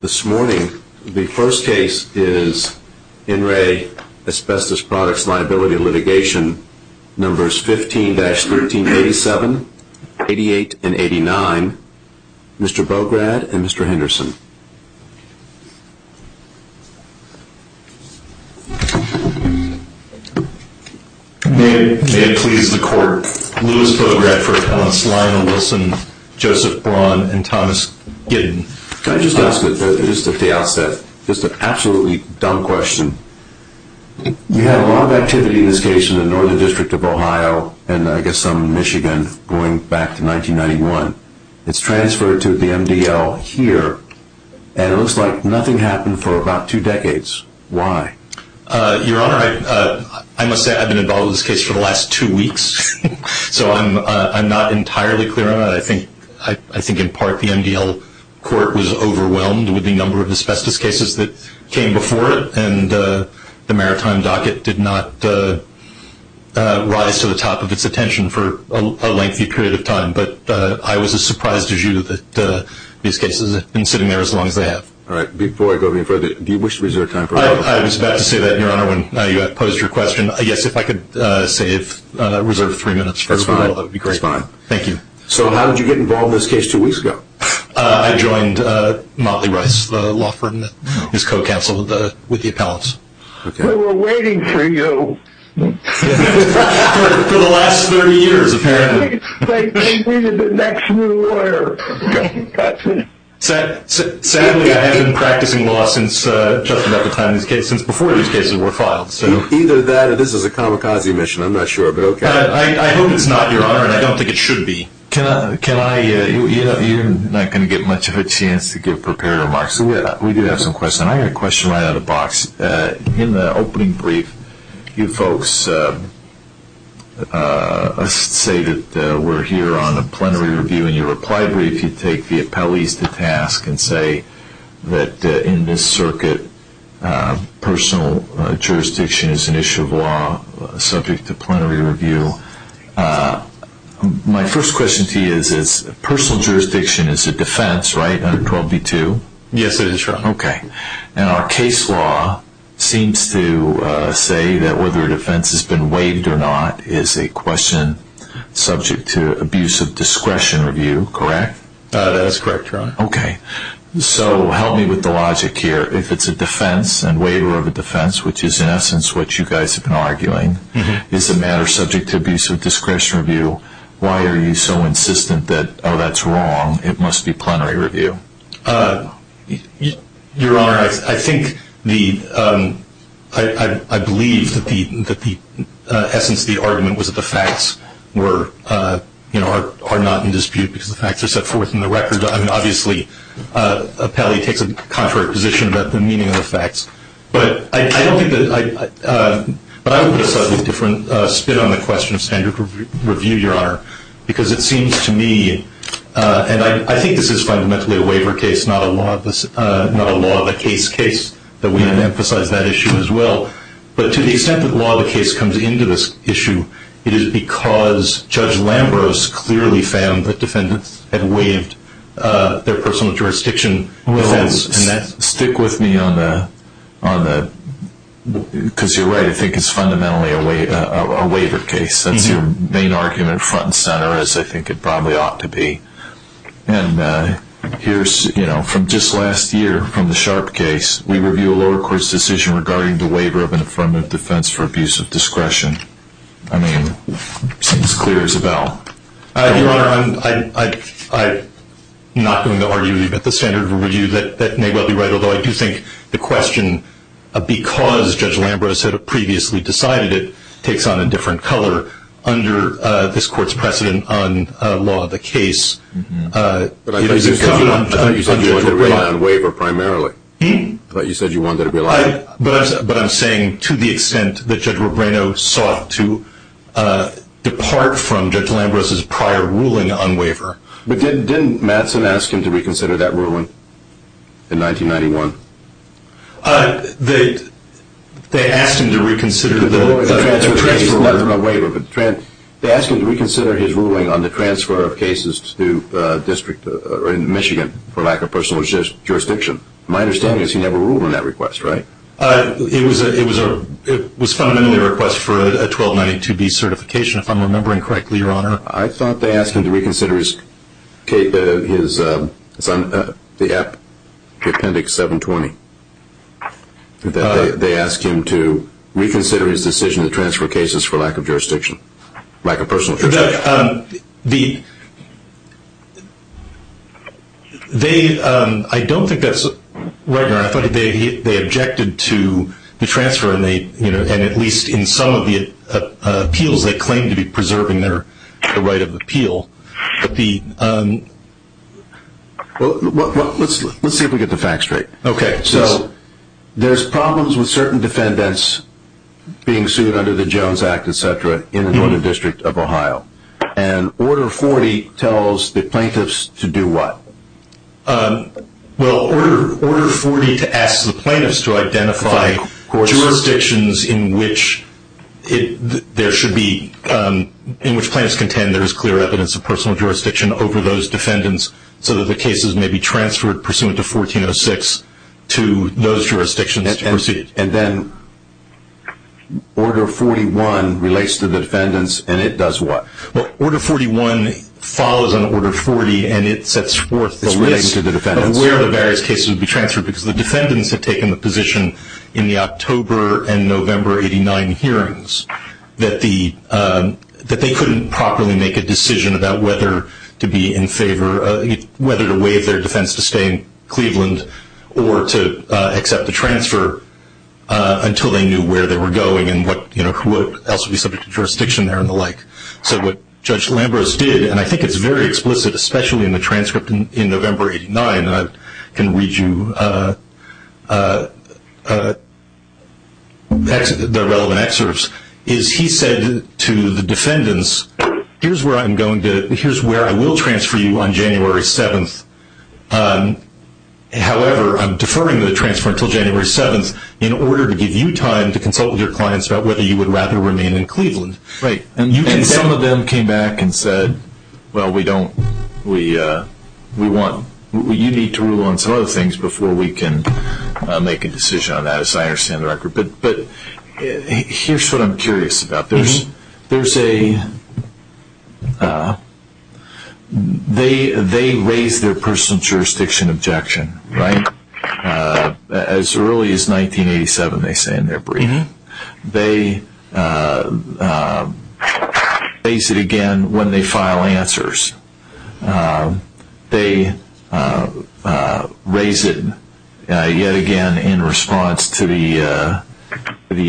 This morning, the first case is In Re Asbestos Products Liability Litigation No. 15-1387, 88, and 89. Mr. Bograd and Mr. Henderson. May it please the court, Lewis Bogradford, Allen Sly and Wilson, Joseph Braun, and Thomas Gidden. Can I just ask, just at the outset, just an absolutely dumb question. You had a lot of activity in this case in the Northern District of Ohio and I guess some in Michigan going back to 1991. It's transferred to the MDL here and it looks like nothing happened for about two decades. Why? Your Honor, I must say I've been involved in this case for the last two weeks, so I'm not entirely clear on that. I think in part the MDL court was overwhelmed with the number of asbestos cases that came before it and the maritime docket did not rise to the top of its attention for a lengthy period of time. But I was as surprised as you that these cases have been sitting there as long as they have. All right. Before I go any further, do you wish to reserve time for a couple of questions? I was about to say that, Your Honor, when you had posed your question. I guess if I could save, reserve three minutes. That's fine. That's fine. Thank you. So how did you get involved in this case two weeks ago? I joined Motley Rice, the law firm that is co-counsel with the appellants. We were waiting for you. For the last 30 years, apparently. They needed the next new lawyer. Sadly, I have been practicing law since just about the time these cases, before these cases were filed. Either that or this is a kamikaze mission. I'm not sure, but okay. I hope it's not, Your Honor, and I don't think it should be. You're not going to get much of a chance to give prepared remarks, so we do have some questions. I have a question right out of the box. In the opening brief, you folks say that we're here on a plenary review. In your reply brief, you take the appellees to task and say that in this circuit, personal jurisdiction is an issue of law subject to plenary review. My first question to you is personal jurisdiction is a defense, right, under 12b-2? Yes, it is, Your Honor. Okay. And our case law seems to say that whether a defense has been waived or not is a question subject to abuse of discretion review, correct? That is correct, Your Honor. Okay. So help me with the logic here. If it's a defense and waiver of a defense, which is in essence what you guys have been arguing, is the matter subject to abuse of discretion review, why are you so insistent that, oh, that's wrong, it must be plenary review? Your Honor, I believe that the essence of the argument was that the facts are not in dispute because the facts are set forth in the record. Obviously, an appellee takes a contrary position about the meaning of the facts. But I would put a slightly different spin on the question of standard review, Your Honor, because it seems to me, and I think this is fundamentally a waiver case, not a law-of-the-case case, that we have emphasized that issue as well. But to the extent that law-of-the-case comes into this issue, it is because Judge Lambros clearly found that defendants had waived their personal jurisdiction defense. Well, stick with me on that because you're right. I think it's fundamentally a waiver case. That's your main argument, front and center, as I think it probably ought to be. And here's, you know, from just last year, from the Sharp case, we review a lower court's decision regarding the waiver of an affirmative defense for abuse of discretion. I mean, it seems clear as a bell. Your Honor, I'm not going to argue with you about the standard review. That may well be right, although I do think the question, because Judge Lambros had previously decided it, takes on a different color under this court's precedent on law-of-the-case. But I thought you said you wanted to rely on waiver primarily. I thought you said you wanted to rely on it. But I'm saying to the extent that Judge Robreno sought to depart from Judge Lambros' prior ruling on waiver. But didn't Mattson ask him to reconsider that ruling in 1991? They asked him to reconsider the transfer of cases. They asked him to reconsider his ruling on the transfer of cases to a district in Michigan for lack of personal jurisdiction. My understanding is he never ruled on that request, right? It was fundamentally a request for a 1292B certification, if I'm remembering correctly, Your Honor. I thought they asked him to reconsider his appendix 720. They asked him to reconsider his decision to transfer cases for lack of jurisdiction, lack of personal jurisdiction. I don't think that's right, Your Honor. I thought they objected to the transfer, and at least in some of the appeals they claimed to be preserving their right of appeal. Let's see if we get the facts straight. Okay, so there's problems with certain defendants being sued under the Jones Act, etc., in the Northern District of Ohio. And Order 40 tells the plaintiffs to do what? Well, Order 40 asks the plaintiffs to identify jurisdictions in which plaintiffs contend there is clear evidence of personal jurisdiction over those defendants so that the cases may be transferred pursuant to 1406 to those jurisdictions to pursue. And then Order 41 relates to the defendants, and it does what? Well, Order 41 follows on Order 40, and it sets forth the list of where the various cases would be transferred because the defendants had taken the position in the October and November 89 hearings that they couldn't properly make a decision about whether to waive their defense to stay in Cleveland or to accept the transfer until they knew where they were going and who else would be subject to jurisdiction there and the like. So what Judge Lambros did, and I think it's very explicit, especially in the transcript in November 89, and I can read you the relevant excerpts, is he said to the defendants, here's where I will transfer you on January 7th. However, I'm deferring the transfer until January 7th in order to give you time to consult with your clients about whether you would rather remain in Cleveland. Right. And some of them came back and said, well, you need to rule on some other things before we can make a decision on that, as I understand the record. But here's what I'm curious about. They raised their personal jurisdiction objection, right, as early as 1987, they say in their briefing. They raise it again when they file answers. They raise it yet again in response to the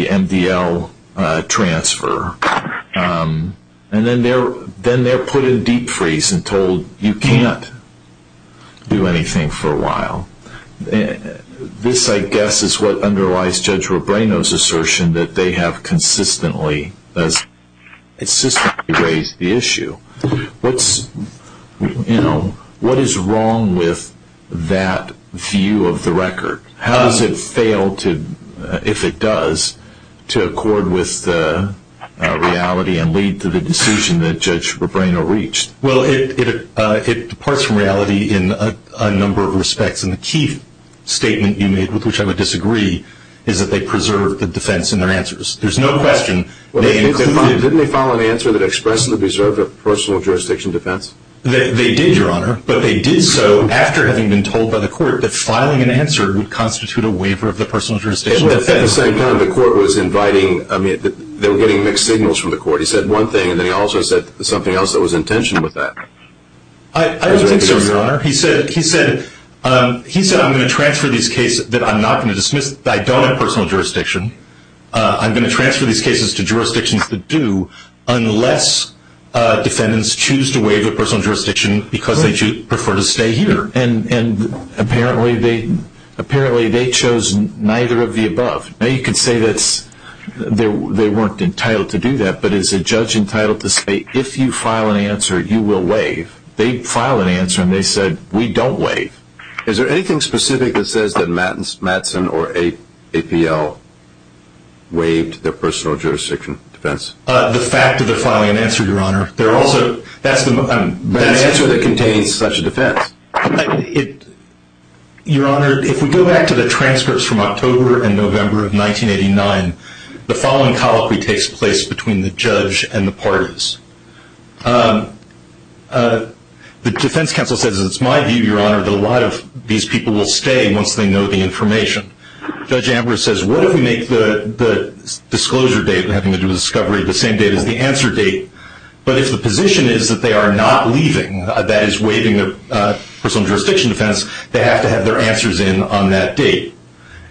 MDL transfer. And then they're put in deep freeze and told you can't do anything for a while. This, I guess, is what underlies Judge Robreno's assertion that they have consistently raised the issue. What is wrong with that view of the record? How does it fail, if it does, to accord with the reality and lead to the decision that Judge Robreno reached? Well, it departs from reality in a number of respects. And the key statement you made, with which I would disagree, is that they preserved the defense in their answers. There's no question. Didn't they file an answer that expressly preserved a personal jurisdiction defense? They did, Your Honor. But they did so after having been told by the court that filing an answer would constitute a waiver of the personal jurisdiction defense. At the same time, the court was inviting, I mean, they were getting mixed signals from the court. He said one thing, and then he also said something else that was in tension with that. I don't think so, Your Honor. He said, I'm going to transfer these cases that I'm not going to dismiss. I don't have personal jurisdiction. I'm going to transfer these cases to jurisdictions that do, unless defendants choose to waive their personal jurisdiction because they prefer to stay here. And apparently they chose neither of the above. Now, you could say that they weren't entitled to do that, but is a judge entitled to say, if you file an answer, you will waive? They file an answer, and they said, we don't waive. Is there anything specific that says that Mattson or APL waived their personal jurisdiction defense? The fact that they're filing an answer, Your Honor. That's the answer that contains such a defense. Your Honor, if we go back to the transcripts from October and November of 1989, the following colloquy takes place between the judge and the parties. The defense counsel says, it's my view, Your Honor, that a lot of these people will stay once they know the information. Judge Ambrose says, what if we make the disclosure date, having to do with discovery, the same date as the answer date, but if the position is that they are not leaving, that is, waiving their personal jurisdiction defense, they have to have their answers in on that date.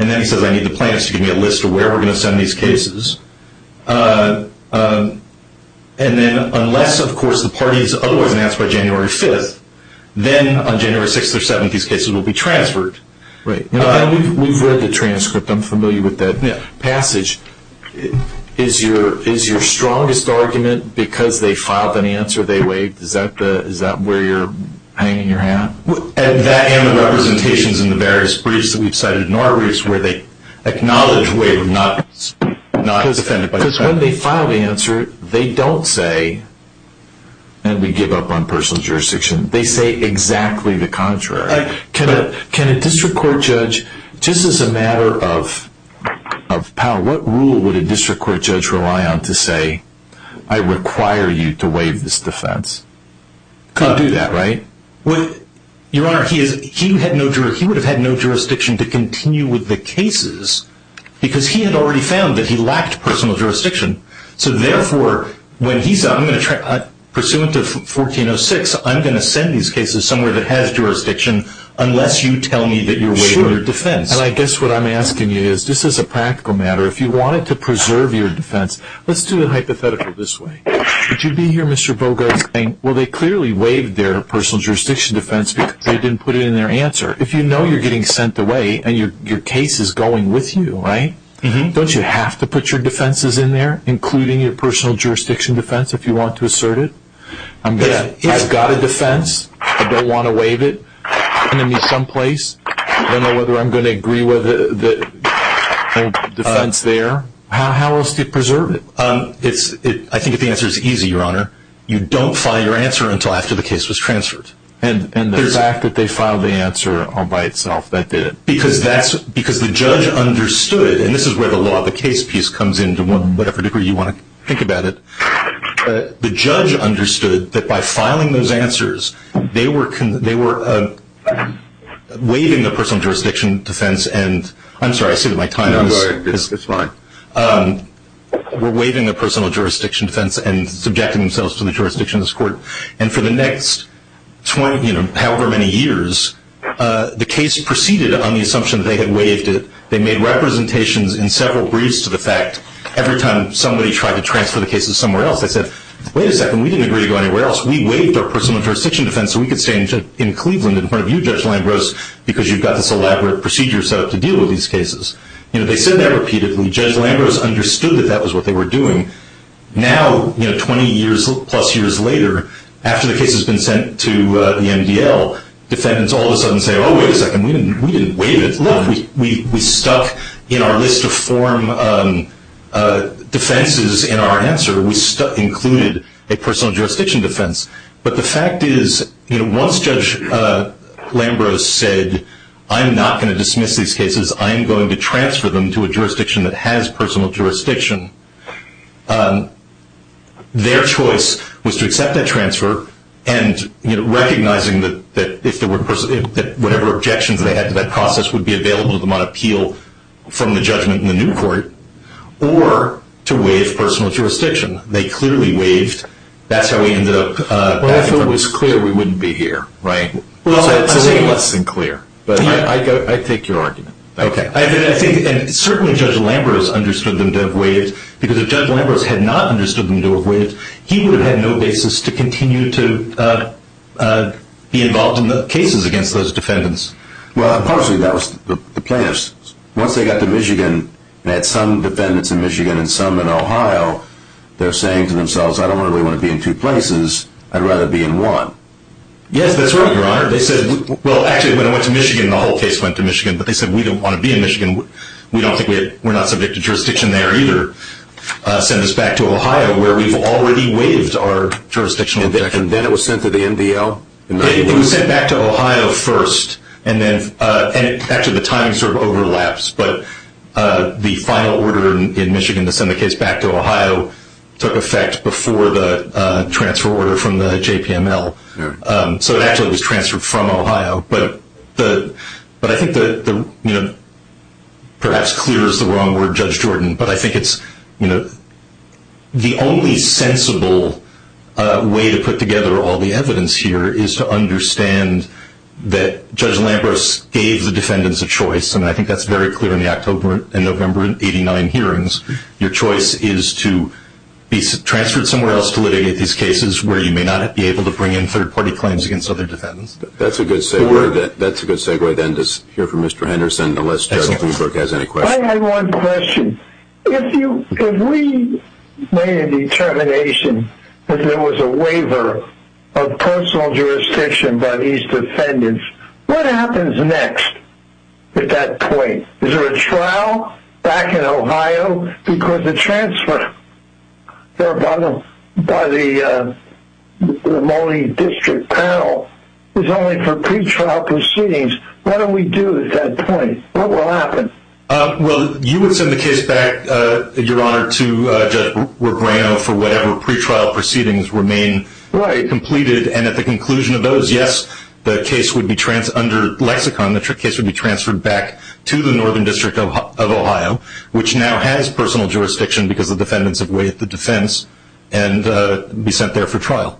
And then he says, I need the plaintiffs to give me a list of where we're going to send these cases. And then unless, of course, the parties otherwise announce by January 5th, then on January 6th or 7th, these cases will be transferred. We've read the transcript. I'm familiar with that passage. Is your strongest argument because they filed an answer, they waived? Is that where you're hanging your hat? That and the representations in the various briefs that we've cited in our briefs where they acknowledge waiving, not defending. Because when they file the answer, they don't say, and we give up on personal jurisdiction. They say exactly the contrary. Can a district court judge, just as a matter of power, what rule would a district court judge rely on to say, I require you to waive this defense? You can't do that, right? Your Honor, he would have had no jurisdiction to continue with the cases because he had already found that he lacked personal jurisdiction. So therefore, when he said, I'm going to try, pursuant to 1406, I'm going to send these cases somewhere that has jurisdiction unless you tell me that you're waiving your defense. And I guess what I'm asking you is, just as a practical matter, if you wanted to preserve your defense, let's do it hypothetically this way. Would you be here, Mr. Bogart, saying, well, they clearly waived their personal jurisdiction defense because they didn't put it in their answer. If you know you're getting sent away and your case is going with you, right, don't you have to put your defenses in there, including your personal jurisdiction defense, if you want to assert it? I've got a defense. I don't want to waive it. It's going to be someplace. I don't know whether I'm going to agree with the defense there. How else do you preserve it? I think the answer is easy, Your Honor. You don't file your answer until after the case was transferred. And the fact that they filed the answer all by itself, that did it. Because the judge understood, and this is where the law of the case piece comes in, to whatever degree you want to think about it. The judge understood that by filing those answers, they were waiving the personal jurisdiction defense. I'm sorry, I say that my time is up. It's fine. They were waiving the personal jurisdiction defense and subjecting themselves to the jurisdiction of this court. And for the next however many years, the case proceeded on the assumption that they had waived it. They made representations in several briefs to the fact, every time somebody tried to transfer the cases somewhere else, they said, wait a second, we didn't agree to go anywhere else. We waived our personal jurisdiction defense so we could stay in Cleveland in front of you, Judge Lambros, because you've got this elaborate procedure set up to deal with these cases. They said that repeatedly. Judge Lambros understood that that was what they were doing. Now, 20 plus years later, after the case has been sent to the MDL, defendants all of a sudden say, oh, wait a second, we didn't waive it. Look, we stuck in our list of form defenses in our answer. We included a personal jurisdiction defense. But the fact is, once Judge Lambros said, I'm not going to dismiss these cases. I am going to transfer them to a jurisdiction that has personal jurisdiction, their choice was to accept that transfer and recognizing that whatever objections they had to that process would be available to them on appeal from the judgment in the new court, or to waive personal jurisdiction. They clearly waived. That's how we ended up. Well, if it was clear, we wouldn't be here, right? Well, it's a little less than clear, but I take your argument. Okay. And certainly Judge Lambros understood them to have waived, because if Judge Lambros had not understood them to have waived, he would have had no basis to continue to be involved in the cases against those defendants. Well, partially that was the plaintiffs. Once they got to Michigan and had some defendants in Michigan and some in Ohio, they're saying to themselves, I don't really want to be in two places. I'd rather be in one. Yes, that's right, Your Honor. They said, well, actually, when it went to Michigan, the whole case went to Michigan, but they said, we don't want to be in Michigan. We don't think we're not subject to jurisdiction there either. Send us back to Ohio, where we've already waived our jurisdictional objection. And then it was sent to the MDL? It was sent back to Ohio first, and actually the timing sort of overlaps, but the final order in Michigan to send the case back to Ohio took effect before the transfer order from the JPML. So it actually was transferred from Ohio. But I think perhaps clear is the wrong word, Judge Jordan, but I think it's the only sensible way to put together all the evidence here is to understand that Judge Lambros gave the defendants a choice, and I think that's very clear in the October and November in 89 hearings. Your choice is to be transferred somewhere else to litigate these cases where you may not be able to bring in third-party claims against other defendants. That's a good segue then to hear from Mr. Henderson, unless Judge Bloomberg has any questions. I have one question. If we made a determination that there was a waiver of personal jurisdiction by these defendants, what happens next at that point? Is there a trial back in Ohio because the transfer by the Moline District panel is only for pretrial proceedings? What do we do at that point? What will happen? Well, you would send the case back, Your Honor, to Judge Regrano for whatever pretrial proceedings remain completed, and at the conclusion of those, yes, the case would be, under lexicon, the case would be transferred back to the Northern District of Ohio, which now has personal jurisdiction because the defendants have waived the defense, and be sent there for trial.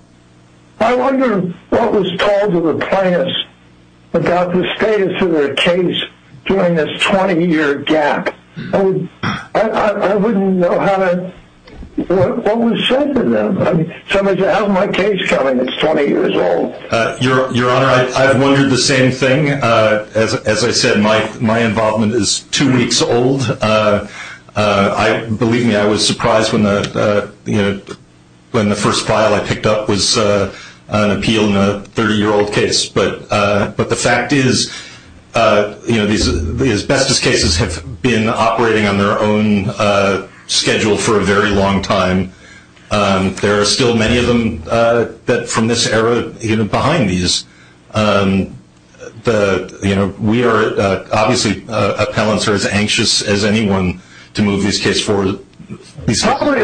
I wonder what was told to the plaintiffs about the status of their case during this 20-year gap. I wouldn't know what was said to them. Somebody said, how's my case coming? It's 20 years old. Your Honor, I've wondered the same thing. As I said, my involvement is two weeks old. Believe me, I was surprised when the first file I picked up was an appeal in a 30-year-old case, but the fact is these bestest cases have been operating on their own schedule for a very long time. There are still many of them from this era behind these. Obviously, appellants are as anxious as anyone to move these cases forward. Probably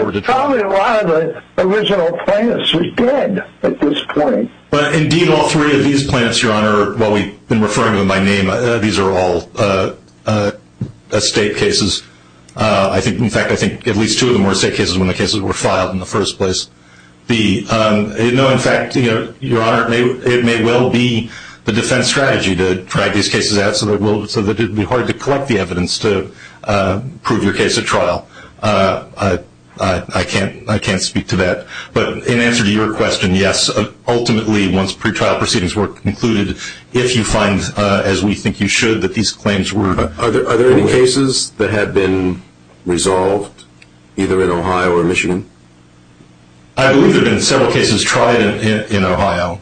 a lot of the original plaintiffs were dead at this point. Indeed, all three of these plaintiffs, Your Honor, while we've been referring to them by name, these are all estate cases. In fact, I think at least two of them were estate cases when the cases were filed in the first place. In fact, Your Honor, it may well be the defense strategy to drag these cases out so that it would be hard to collect the evidence to prove your case at trial. I can't speak to that. But in answer to your question, yes, ultimately, once pretrial proceedings were concluded, if you find, as we think you should, that these claims were- Are there any cases that have been resolved, either in Ohio or Michigan? I believe there have been several cases tried in Ohio.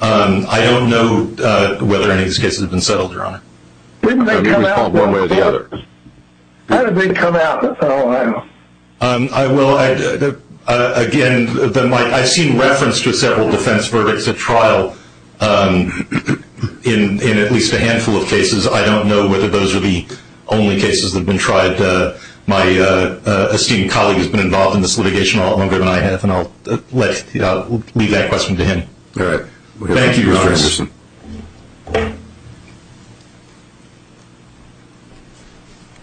I don't know whether any of these cases have been settled, Your Honor. Wouldn't they come out one way or the other? How did they come out in Ohio? Well, again, I've seen reference to several defense verdicts at trial in at least a handful of cases. I don't know whether those are the only cases that have been tried. My esteemed colleague has been involved in this litigation a lot longer than I have, and I'll leave that question to him. All right. Thank you, Your Honor. Thank you, Mr. Henderson.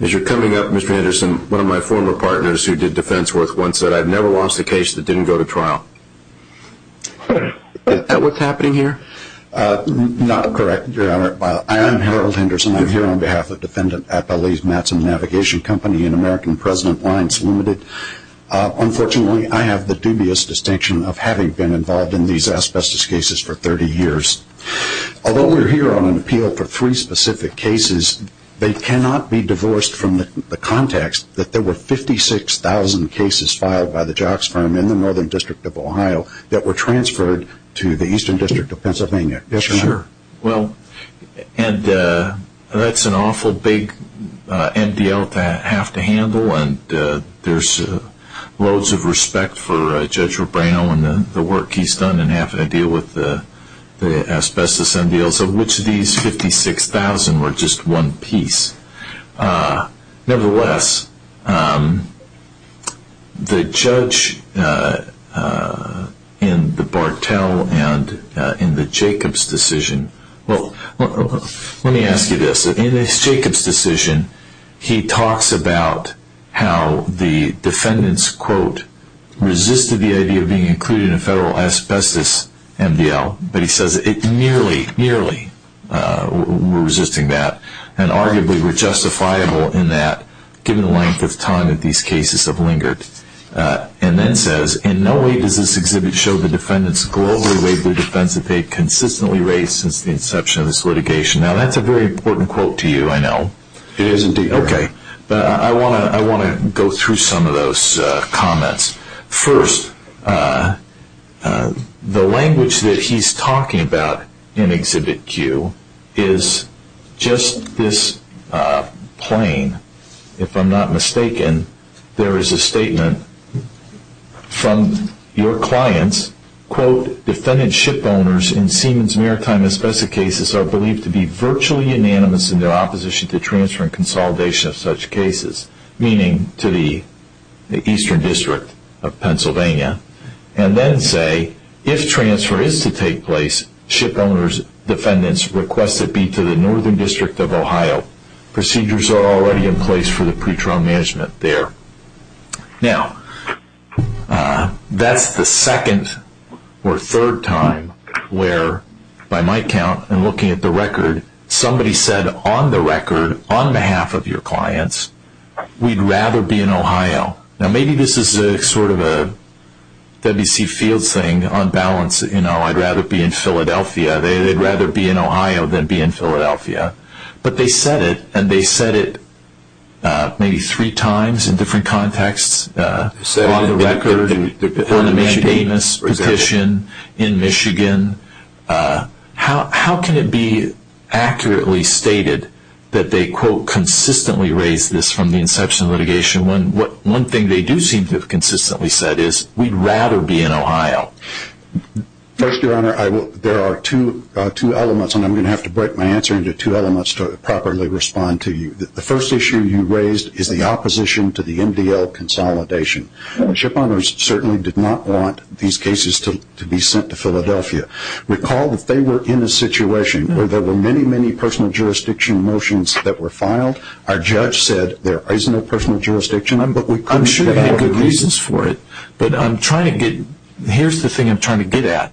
As you're coming up, Mr. Henderson, one of my former partners who did defense work once said, I've never lost a case that didn't go to trial. Is that what's happening here? Not correct, Your Honor. I'm Harold Henderson. I'm here on behalf of Defendant Appellee's Matson Navigation Company and American President Lines Limited. Unfortunately, I have the dubious distinction of having been involved in these asbestos cases for 30 years. Although we're here on an appeal for three specific cases, they cannot be divorced from the context that there were 56,000 cases filed by the jocks firm in the Northern District of Ohio that were transferred to the Eastern District of Pennsylvania. Yes, Your Honor. Well, that's an awful big MDL to have to handle, and there's loads of respect for Judge Rebrano and the work he's done in having to deal with the asbestos MDLs of which these 56,000 were just one piece. Nevertheless, the judge in the Bartell and in the Jacobs decision, well, let me ask you this. In the Jacobs decision, he talks about how the defendants, quote, resisted the idea of being included in a federal asbestos MDL, but he says nearly, nearly were resisting that and arguably were justifiable in that given the length of time that these cases have lingered. And then says, in no way does this exhibit show the defendants' globally wavering defense of pay consistently raised since the inception of this litigation. Now, that's a very important quote to you, I know. It is indeed. Okay. But I want to go through some of those comments. First, the language that he's talking about in Exhibit Q is just this plain. If I'm not mistaken, there is a statement from your clients, quote, defendant ship owners in Siemens Maritime asbestos cases are believed to be virtually unanimous in their opposition to transfer and consolidation of such cases, meaning to the Eastern District of Pennsylvania. And then say, if transfer is to take place, ship owners' defendants request it be to the Northern District of Ohio. Procedures are already in place for the pretrial management there. Now, that's the second or third time where, by my count, and looking at the record, somebody said on the record, on behalf of your clients, we'd rather be in Ohio. Now, maybe this is sort of a W.C. Fields thing, on balance, you know, I'd rather be in Philadelphia. They'd rather be in Ohio than be in Philadelphia. But they said it, and they said it maybe three times in different contexts, on the record, on a unanimous petition, in Michigan. How can it be accurately stated that they, quote, consistently raised this from the inception of litigation when one thing they do seem to have consistently said is we'd rather be in Ohio? First, Your Honor, there are two elements, and I'm going to have to break my answer into two elements to properly respond to you. The first issue you raised is the opposition to the MDL consolidation. Shipowners certainly did not want these cases to be sent to Philadelphia. Recall that they were in a situation where there were many, many personal jurisdiction motions that were filed. Our judge said there is no personal jurisdiction. I'm sure you had good reasons for it. But I'm trying to get – here's the thing I'm trying to get at.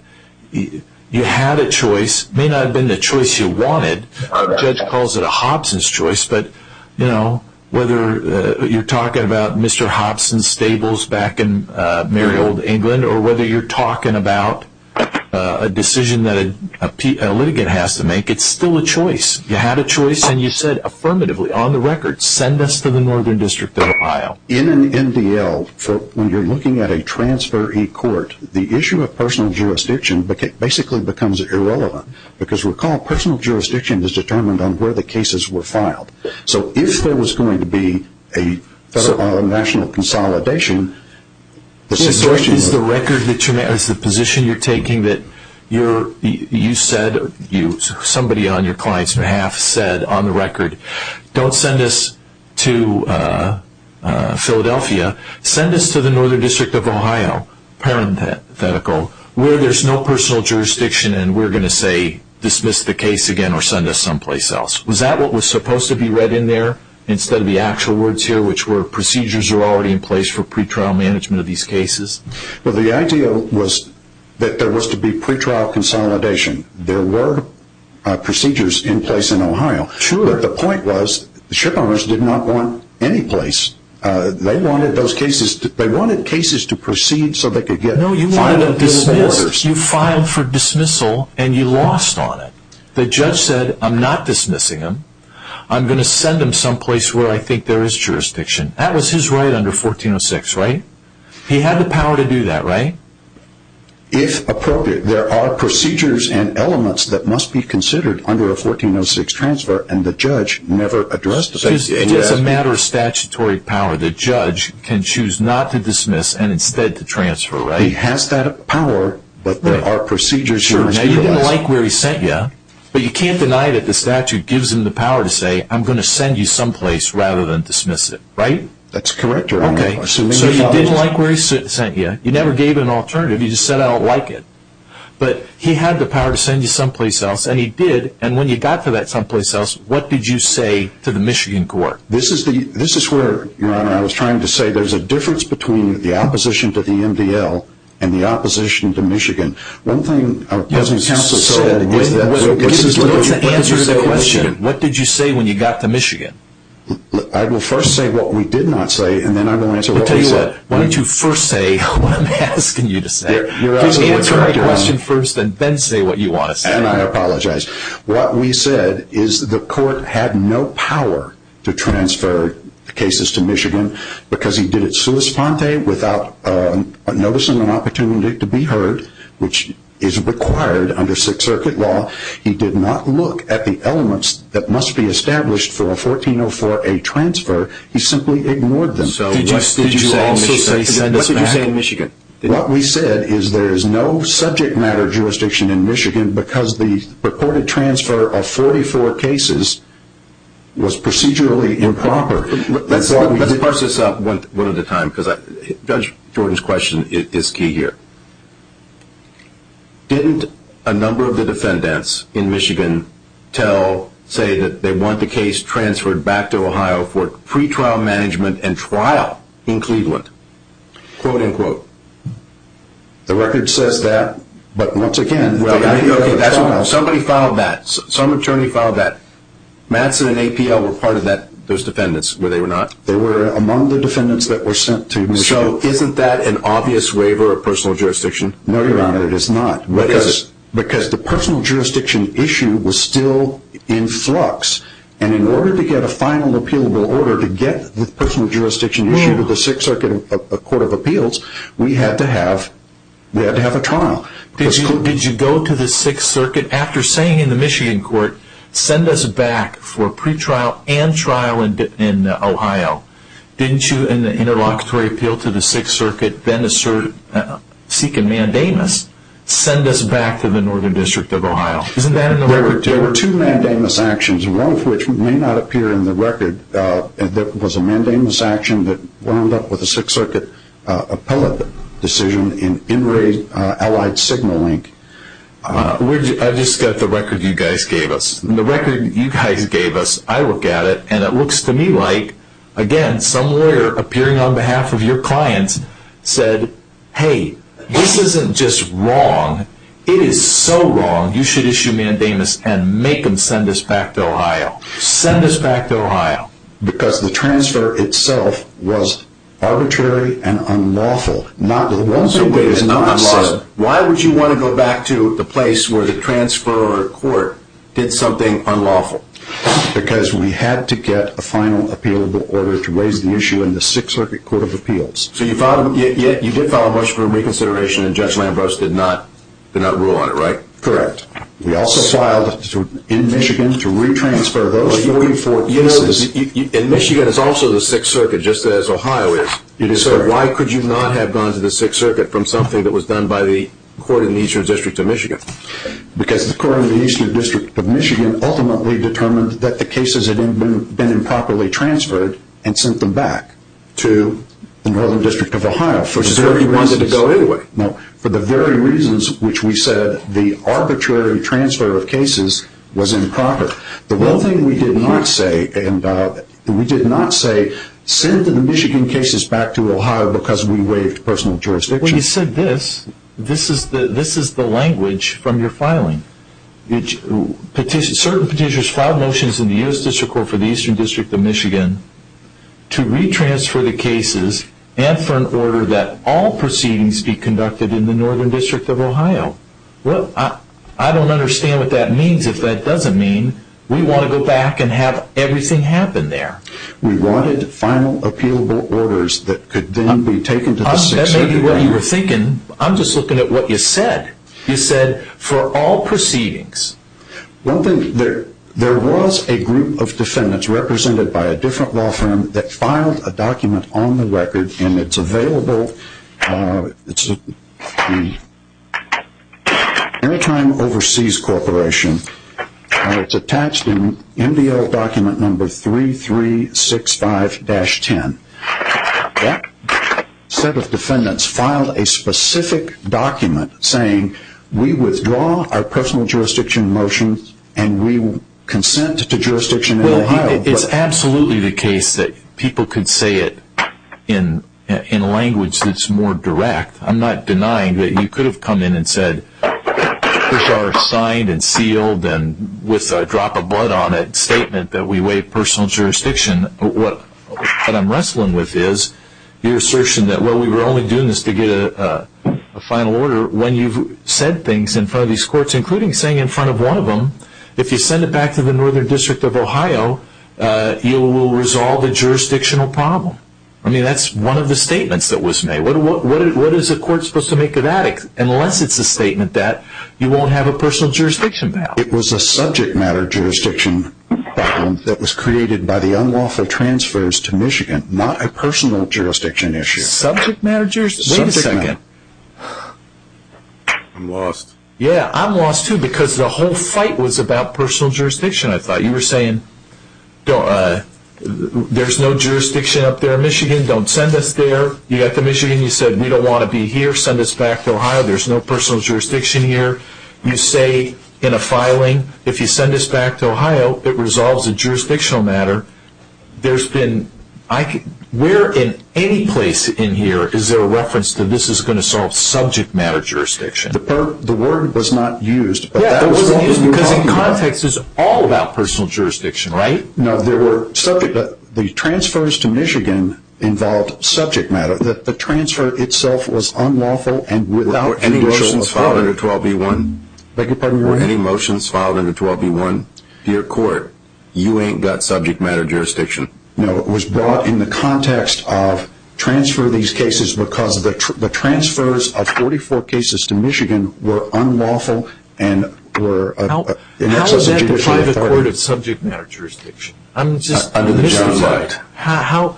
You had a choice. It may not have been the choice you wanted. Our judge calls it a Hobson's choice. But, you know, whether you're talking about Mr. Hobson's stables back in merry old England or whether you're talking about a decision that a litigant has to make, it's still a choice. You had a choice and you said affirmatively, on the record, send us to the Northern District of Ohio. In an MDL, when you're looking at a transfer e-court, the issue of personal jurisdiction basically becomes irrelevant because, recall, personal jurisdiction is determined on where the cases were filed. So if there was going to be a national consolidation, the situation would – So is the record that you're – is the position you're taking that you said – somebody on your client's behalf said, on the record, don't send us to Philadelphia. Send us to the Northern District of Ohio, parenthetical, where there's no personal jurisdiction and we're going to say dismiss the case again or send us someplace else. Was that what was supposed to be read in there instead of the actual words here, which were procedures are already in place for pretrial management of these cases? Well, the idea was that there was to be pretrial consolidation. There were procedures in place in Ohio. Sure. But the point was the shipowners did not want any place. You filed for dismissal and you lost on it. The judge said, I'm not dismissing him. I'm going to send him someplace where I think there is jurisdiction. That was his right under 1406, right? He had the power to do that, right? If appropriate. There are procedures and elements that must be considered under a 1406 transfer and the judge never addressed the case. It is a matter of statutory power. But a judge can choose not to dismiss and instead to transfer, right? He has that power, but there are procedures. Sure. Now, you didn't like where he sent you, but you can't deny that the statute gives him the power to say, I'm going to send you someplace rather than dismiss it, right? That's correct, Your Honor. Okay. So you didn't like where he sent you. You never gave an alternative. You just said, I don't like it. But he had the power to send you someplace else, and he did, and when you got to that someplace else, what did you say to the Michigan court? This is where, Your Honor, I was trying to say there's a difference between the opposition to the MDL and the opposition to Michigan. One thing our President's Counsel said is that this is the question. Answer the question. What did you say when you got to Michigan? I will first say what we did not say, and then I will answer what we said. Tell you what, why don't you first say what I'm asking you to say. Please answer my question first and then say what you want to say. And I apologize. What we said is the court had no power to transfer cases to Michigan because he did it sua sponte, without noticing an opportunity to be heard, which is required under Sixth Circuit law. He did not look at the elements that must be established for a 1404A transfer. He simply ignored them. So what did you say in Michigan? What we said is there is no subject matter jurisdiction in Michigan because the purported transfer of 44 cases was procedurally improper. Let's parse this up one at a time because Judge Jordan's question is key here. Didn't a number of the defendants in Michigan say that they want the case transferred back to Ohio for pretrial management and trial in Cleveland? Quote, unquote. The record says that, but once again, somebody filed that. Some attorney filed that. Matson and APL were part of those defendants where they were not. They were among the defendants that were sent to Michigan. So isn't that an obvious waiver of personal jurisdiction? No, Your Honor, it is not. What is it? Because the personal jurisdiction issue was still in flux, and in order to get a final appealable order to get the personal jurisdiction issue to go to the Sixth Circuit Court of Appeals, we had to have a trial. Did you go to the Sixth Circuit after saying in the Michigan court, send us back for pretrial and trial in Ohio? Didn't you, in the interlocutory appeal to the Sixth Circuit, then seek a mandamus, send us back to the Northern District of Ohio? There were two mandamus actions, one of which may not appear in the record. There was a mandamus action that wound up with a Sixth Circuit appellate decision in in raid allied signal link. I just got the record you guys gave us. The record you guys gave us, I look at it, and it looks to me like, again, some lawyer appearing on behalf of your clients said, hey, this isn't just wrong. It is so wrong. You should issue a mandamus and make them send us back to Ohio. Send us back to Ohio. Because the transfer itself was arbitrary and unlawful. So why would you want to go back to the place where the transfer court did something unlawful? Because we had to get a final appeal of the order to raise the issue in the Sixth Circuit Court of Appeals. So you did file a motion for reconsideration, and Judge Lambros did not rule on it, right? Correct. We also filed in Michigan to retransfer those 44 cases. In Michigan, it's also the Sixth Circuit, just as Ohio is. So why could you not have gone to the Sixth Circuit from something that was done by the court in the Eastern District of Michigan? Because the court in the Eastern District of Michigan ultimately determined that the cases had been improperly transferred and sent them back to the Northern District of Ohio. So you wanted to go anyway. For the very reasons which we said, the arbitrary transfer of cases was improper. The one thing we did not say, send the Michigan cases back to Ohio because we waived personal jurisdiction. When you said this, this is the language from your filing. Certain petitioners filed motions in the U.S. District Court for the Eastern District of Michigan to retransfer the cases and for an order that all proceedings be conducted in the Northern District of Ohio. Well, I don't understand what that means. If that doesn't mean, we want to go back and have everything happen there. We wanted final appealable orders that could then be taken to the Sixth Circuit Court. That may be what you were thinking. I'm just looking at what you said. You said, for all proceedings. One thing, there was a group of defendants represented by a different law firm that filed a document on the record and it's available, it's an airtime overseas corporation. It's attached in MDL document number 3365-10. That set of defendants filed a specific document saying, we withdraw our personal jurisdiction motion and we consent to jurisdiction in Ohio. Well, it's absolutely the case that people could say it in language that's more direct. I'm not denying that you could have come in and said, these are signed and sealed and with a drop of blood on it statement that we waive personal jurisdiction. What I'm wrestling with is your assertion that we were only doing this to get a final order when you've said things in front of these courts, including saying in front of one of them, if you send it back to the Northern District of Ohio, you will resolve a jurisdictional problem. I mean, that's one of the statements that was made. What is a court supposed to make of that unless it's a statement that you won't have a personal jurisdiction battle? It was a subject matter jurisdiction battle that was created by the unlawful transfers to Michigan, not a personal jurisdiction issue. Subject matter jurisdiction? Wait a second. I'm lost. Yeah, I'm lost too because the whole fight was about personal jurisdiction. I thought you were saying, there's no jurisdiction up there in Michigan, don't send us there. You got to Michigan, you said we don't want to be here, send us back to Ohio, there's no personal jurisdiction here. You say in a filing, if you send us back to Ohio, it resolves a jurisdictional matter. Where in any place in here is there a reference that this is going to solve subject matter jurisdiction? The word was not used. Yeah, it wasn't used because in context it's all about personal jurisdiction, right? No, the transfers to Michigan involved subject matter. The transfer itself was unlawful and without judicial authority. Any motions filed under 12B1, dear court, you ain't got subject matter jurisdiction. No, it was brought in the context of transfer of these cases because the transfers of 44 cases to Michigan were unlawful and were in excess of judicial authority. How is that the private court of subject matter jurisdiction? Under the John Light.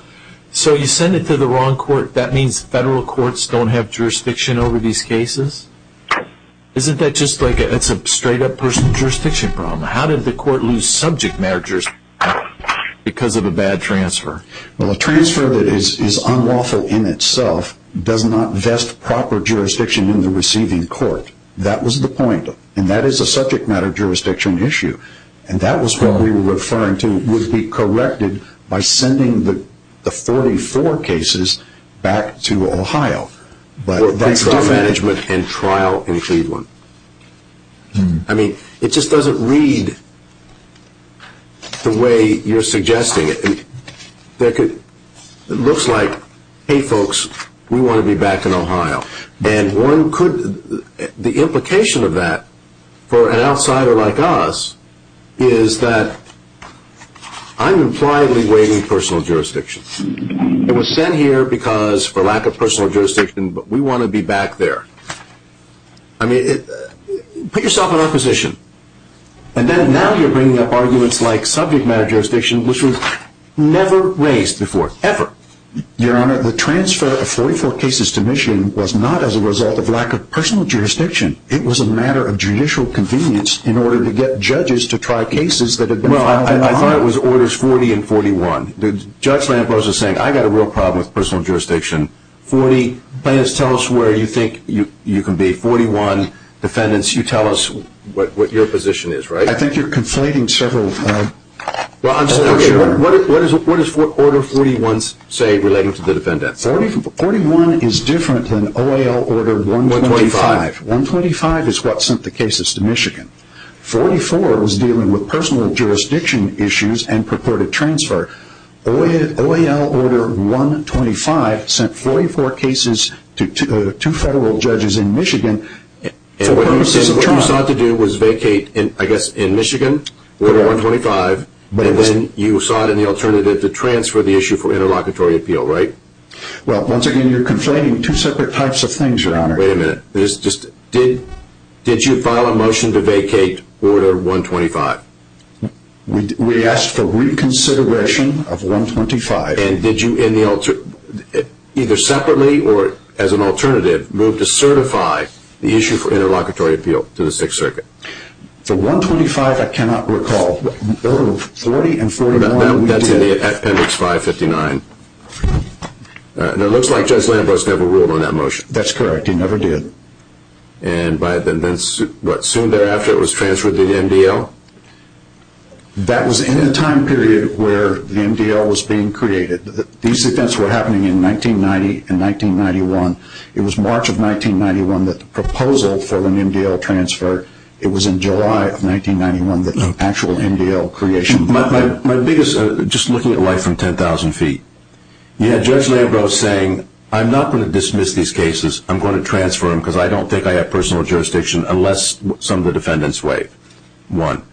So you send it to the wrong court, that means federal courts don't have jurisdiction over these cases? Isn't that just like a straight up personal jurisdiction problem? How did the court lose subject matter jurisdiction because of a bad transfer? Well, a transfer that is unlawful in itself does not vest proper jurisdiction in the receiving court. That was the point. And that is a subject matter jurisdiction issue. And that was what we were referring to would be corrected by sending the 44 cases back to Ohio. But that's still management and trial in Cleveland. I mean, it just doesn't read the way you're suggesting it. It looks like, hey folks, we want to be back in Ohio. And the implication of that for an outsider like us is that I'm impliedly waiving personal jurisdiction. It was sent here because for lack of personal jurisdiction, but we want to be back there. I mean, put yourself in our position. And then now you're bringing up arguments like subject matter jurisdiction, which was never raised before, ever. Your Honor, the transfer of 44 cases to Michigan was not as a result of lack of personal jurisdiction. It was a matter of judicial convenience in order to get judges to try cases that had been filed in Ohio. Well, I thought it was Orders 40 and 41. Judge Lambrose is saying I've got a real problem with personal jurisdiction. 40, please tell us where you think you can be. 41, defendants, you tell us what your position is, right? I think you're conflating several. Well, I'm not sure. What does Order 41 say relating to the defendants? 41 is different than OAL Order 125. 125 is what sent the cases to Michigan. 44 was dealing with personal jurisdiction issues and purported transfer. OAL Order 125 sent 44 cases to two federal judges in Michigan for purposes of trial. What you sought to do was vacate, I guess, in Michigan Order 125, and then you sought an alternative to transfer the issue for interlocutory appeal, right? Well, once again, you're conflating two separate types of things, Your Honor. Wait a minute. Did you file a motion to vacate Order 125? We asked for reconsideration of 125. And did you, either separately or as an alternative, move to certify the issue for interlocutory appeal to the Sixth Circuit? For 125, I cannot recall. Order 40 and 41, we did. That's in the appendix 559. And it looks like Judge Lambros never ruled on that motion. That's correct. He never did. And soon thereafter, it was transferred to the MDL? That was in a time period where the MDL was being created. These events were happening in 1990 and 1991. It was March of 1991 that the proposal for an MDL transfer, it was in July of 1991 that the actual MDL creation began. My biggest, just looking at life from 10,000 feet, you had Judge Lambros saying, I'm not going to dismiss these cases. I'm going to transfer them because I don't think I have personal jurisdiction unless some of the defendants waive. One,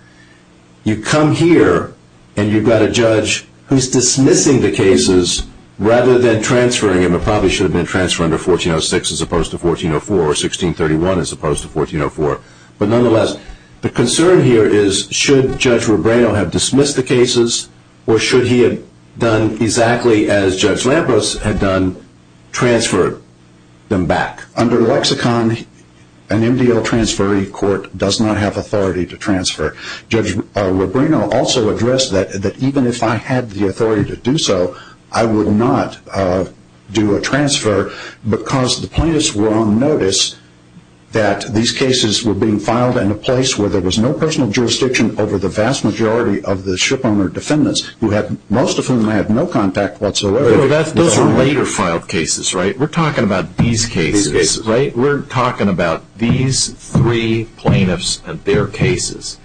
you come here and you've got a judge who's dismissing the cases rather than transferring them. It probably should have been transferred under 1406 as opposed to 1404 or 1631 as opposed to 1404. But nonetheless, the concern here is should Judge Rubrano have dismissed the cases or should he have done exactly as Judge Lambros had done, transferred them back? Under lexicon, an MDL transferee court does not have authority to transfer. Judge Rubrano also addressed that even if I had the authority to do so, I would not do a transfer because the plaintiffs were on notice that these cases were being filed in a place where there was no personal jurisdiction over the vast majority of the shipowner defendants, most of whom had no contact whatsoever. Those were later filed cases, right? We're talking about these cases, right? We're talking about these three plaintiffs and their cases.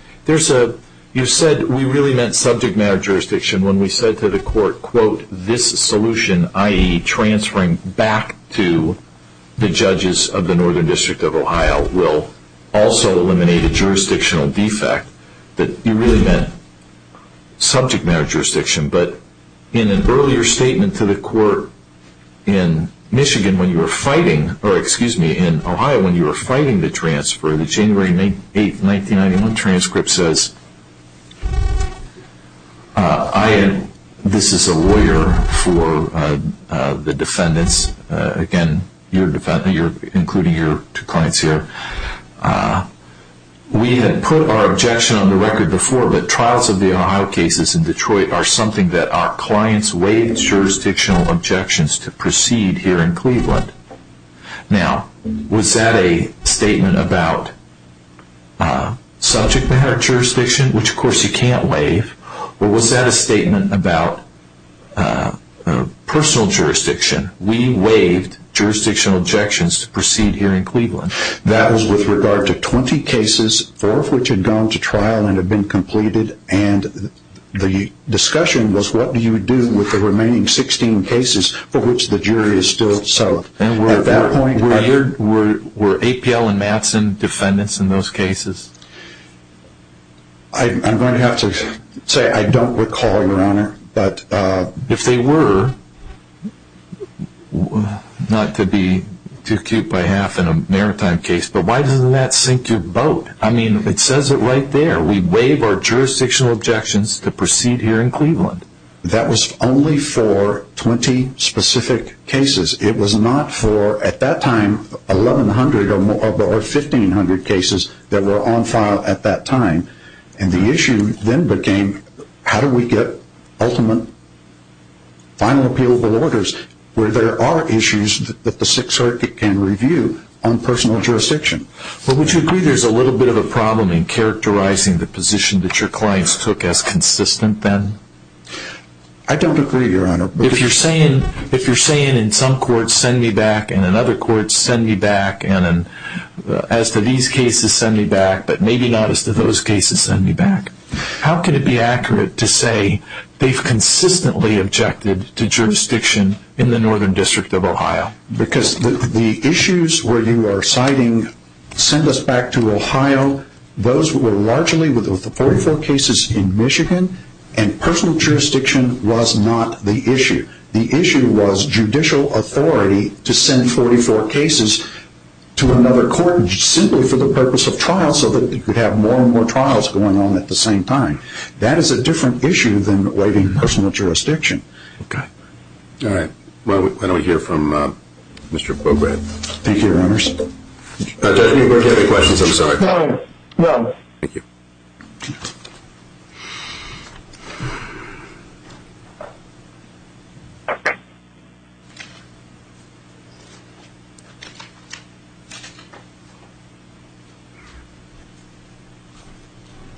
You said we really meant subject matter jurisdiction when we said to the court, quote, this solution, i.e., transferring back to the judges of the Northern District of Ohio will also eliminate a jurisdictional defect. You really meant subject matter jurisdiction. But in an earlier statement to the court in Michigan when you were fighting, or excuse me, in Ohio when you were fighting the transfer, the January 8, 1991 transcript says, this is a lawyer for the defendants. Again, you're including your two clients here. We had put our objection on the record before that trials of the Ohio cases in Detroit are something that our clients waived jurisdictional objections to proceed here in Cleveland. Now, was that a statement about subject matter jurisdiction, which of course you can't waive, or was that a statement about personal jurisdiction? We waived jurisdictional objections to proceed here in Cleveland. That was with regard to 20 cases, four of which had gone to trial and have been completed, and the discussion was what do you do with the remaining 16 cases for which the jury is still settled. Were APL and Matson defendants in those cases? I'm going to have to say I don't recall, Your Honor. But if they were, not to be too cute by half in a maritime case, but why doesn't that sink your boat? I mean, it says it right there. We waive our jurisdictional objections to proceed here in Cleveland. That was only for 20 specific cases. It was not for, at that time, 1,100 or 1,500 cases that were on file at that time, and the issue then became how do we get ultimate final appealable orders where there are issues that the Sixth Circuit can review on personal jurisdiction. Well, would you agree there's a little bit of a problem in characterizing the position that your clients took as consistent then? I don't agree, Your Honor. If you're saying in some courts, send me back, and in other courts, send me back, and as to these cases, send me back, but maybe not as to those cases, send me back, How can it be accurate to say they've consistently objected to jurisdiction in the Northern District of Ohio? Because the issues where you are citing send us back to Ohio, those were largely with the 44 cases in Michigan, and personal jurisdiction was not the issue. The issue was judicial authority to send 44 cases to another court simply for the purpose of trial so that you could have more and more trials going on at the same time. That is a different issue than waiting personal jurisdiction. Okay. All right. Why don't we hear from Mr. Beaubret. Thank you, Your Honors. Judge, do you have any questions? I'm sorry. No. Thank you.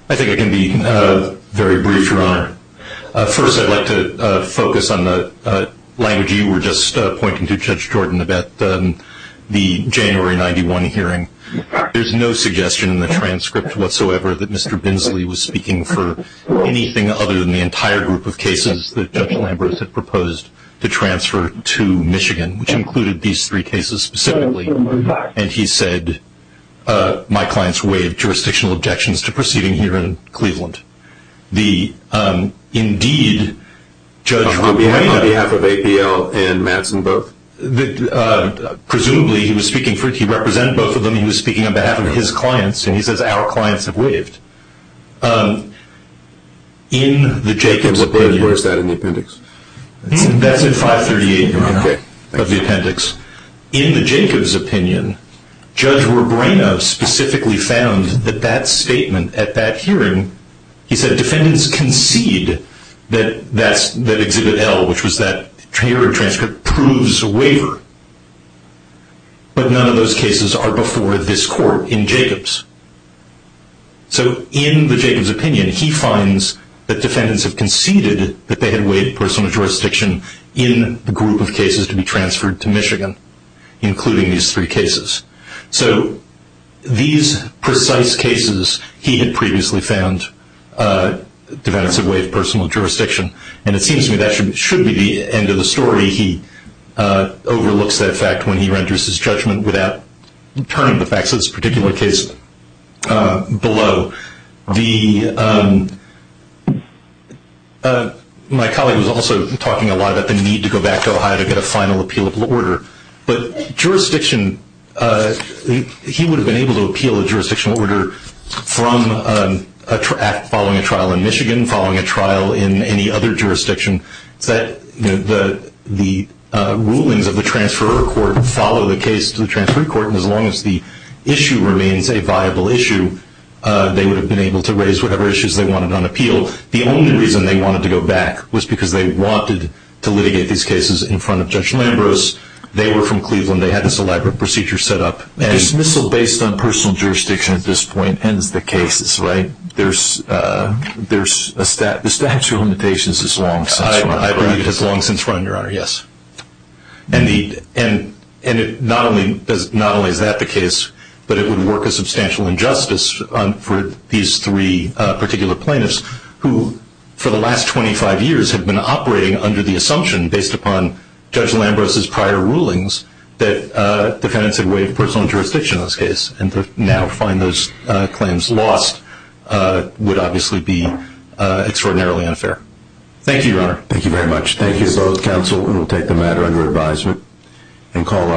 I think I can be very brief, Your Honor. First, I'd like to focus on the language you were just pointing to, Judge Jordan, about the January 91 hearing. There's no suggestion in the transcript whatsoever that Mr. Binsley was speaking for anything other than the entire group of cases that Judge Lambrous had proposed to transfer to Michigan, which included these three cases specifically, and he said, my clients waived jurisdictional objections to proceeding here in Cleveland. The indeed, Judge Romano. On behalf of APL and Madsen both? Presumably, he was speaking for, he represented both of them. He was speaking on behalf of his clients, and he says, our clients have waived. Where is that in the appendix? That's in 538, Your Honor, of the appendix. Okay. In the Jacobs' opinion, Judge Robreno specifically found that that statement at that hearing, he said defendants concede that Exhibit L, which was that hearing transcript, proves a waiver, but none of those cases are before this court in Jacobs. So in the Jacobs' opinion, he finds that defendants have conceded that they had waived personal jurisdiction in the group of cases to be transferred to Michigan, including these three cases. So these precise cases he had previously found defendants have waived personal jurisdiction, and it seems to me that should be the end of the story. He overlooks that fact when he renders his judgment without turning the facts of this particular case below. My colleague was also talking a lot about the need to go back to Ohio to get a final appealable order, but he would have been able to appeal a jurisdictional order following a trial in Michigan, following a trial in any other jurisdiction. The rulings of the transferor court follow the case to the transferor court, and as long as the issue remains a viable issue, they would have been able to raise whatever issues they wanted on appeal. The only reason they wanted to go back was because they wanted to litigate these cases in front of Judge Lambros. They were from Cleveland. They had this elaborate procedure set up. Dismissal based on personal jurisdiction at this point ends the cases, right? The statute of limitations has long since run. I believe it has long since run, Your Honor, yes. And not only is that the case, but it would work a substantial injustice for these three particular plaintiffs who for the last 25 years have been operating under the assumption based upon Judge Lambros' prior rulings that defendants had waived personal jurisdiction in this case, and to now find those claims lost would obviously be extraordinarily unfair. Thank you, Your Honor. Thank you very much. Thank you to both counsel, and we'll take the matter under advisement and call our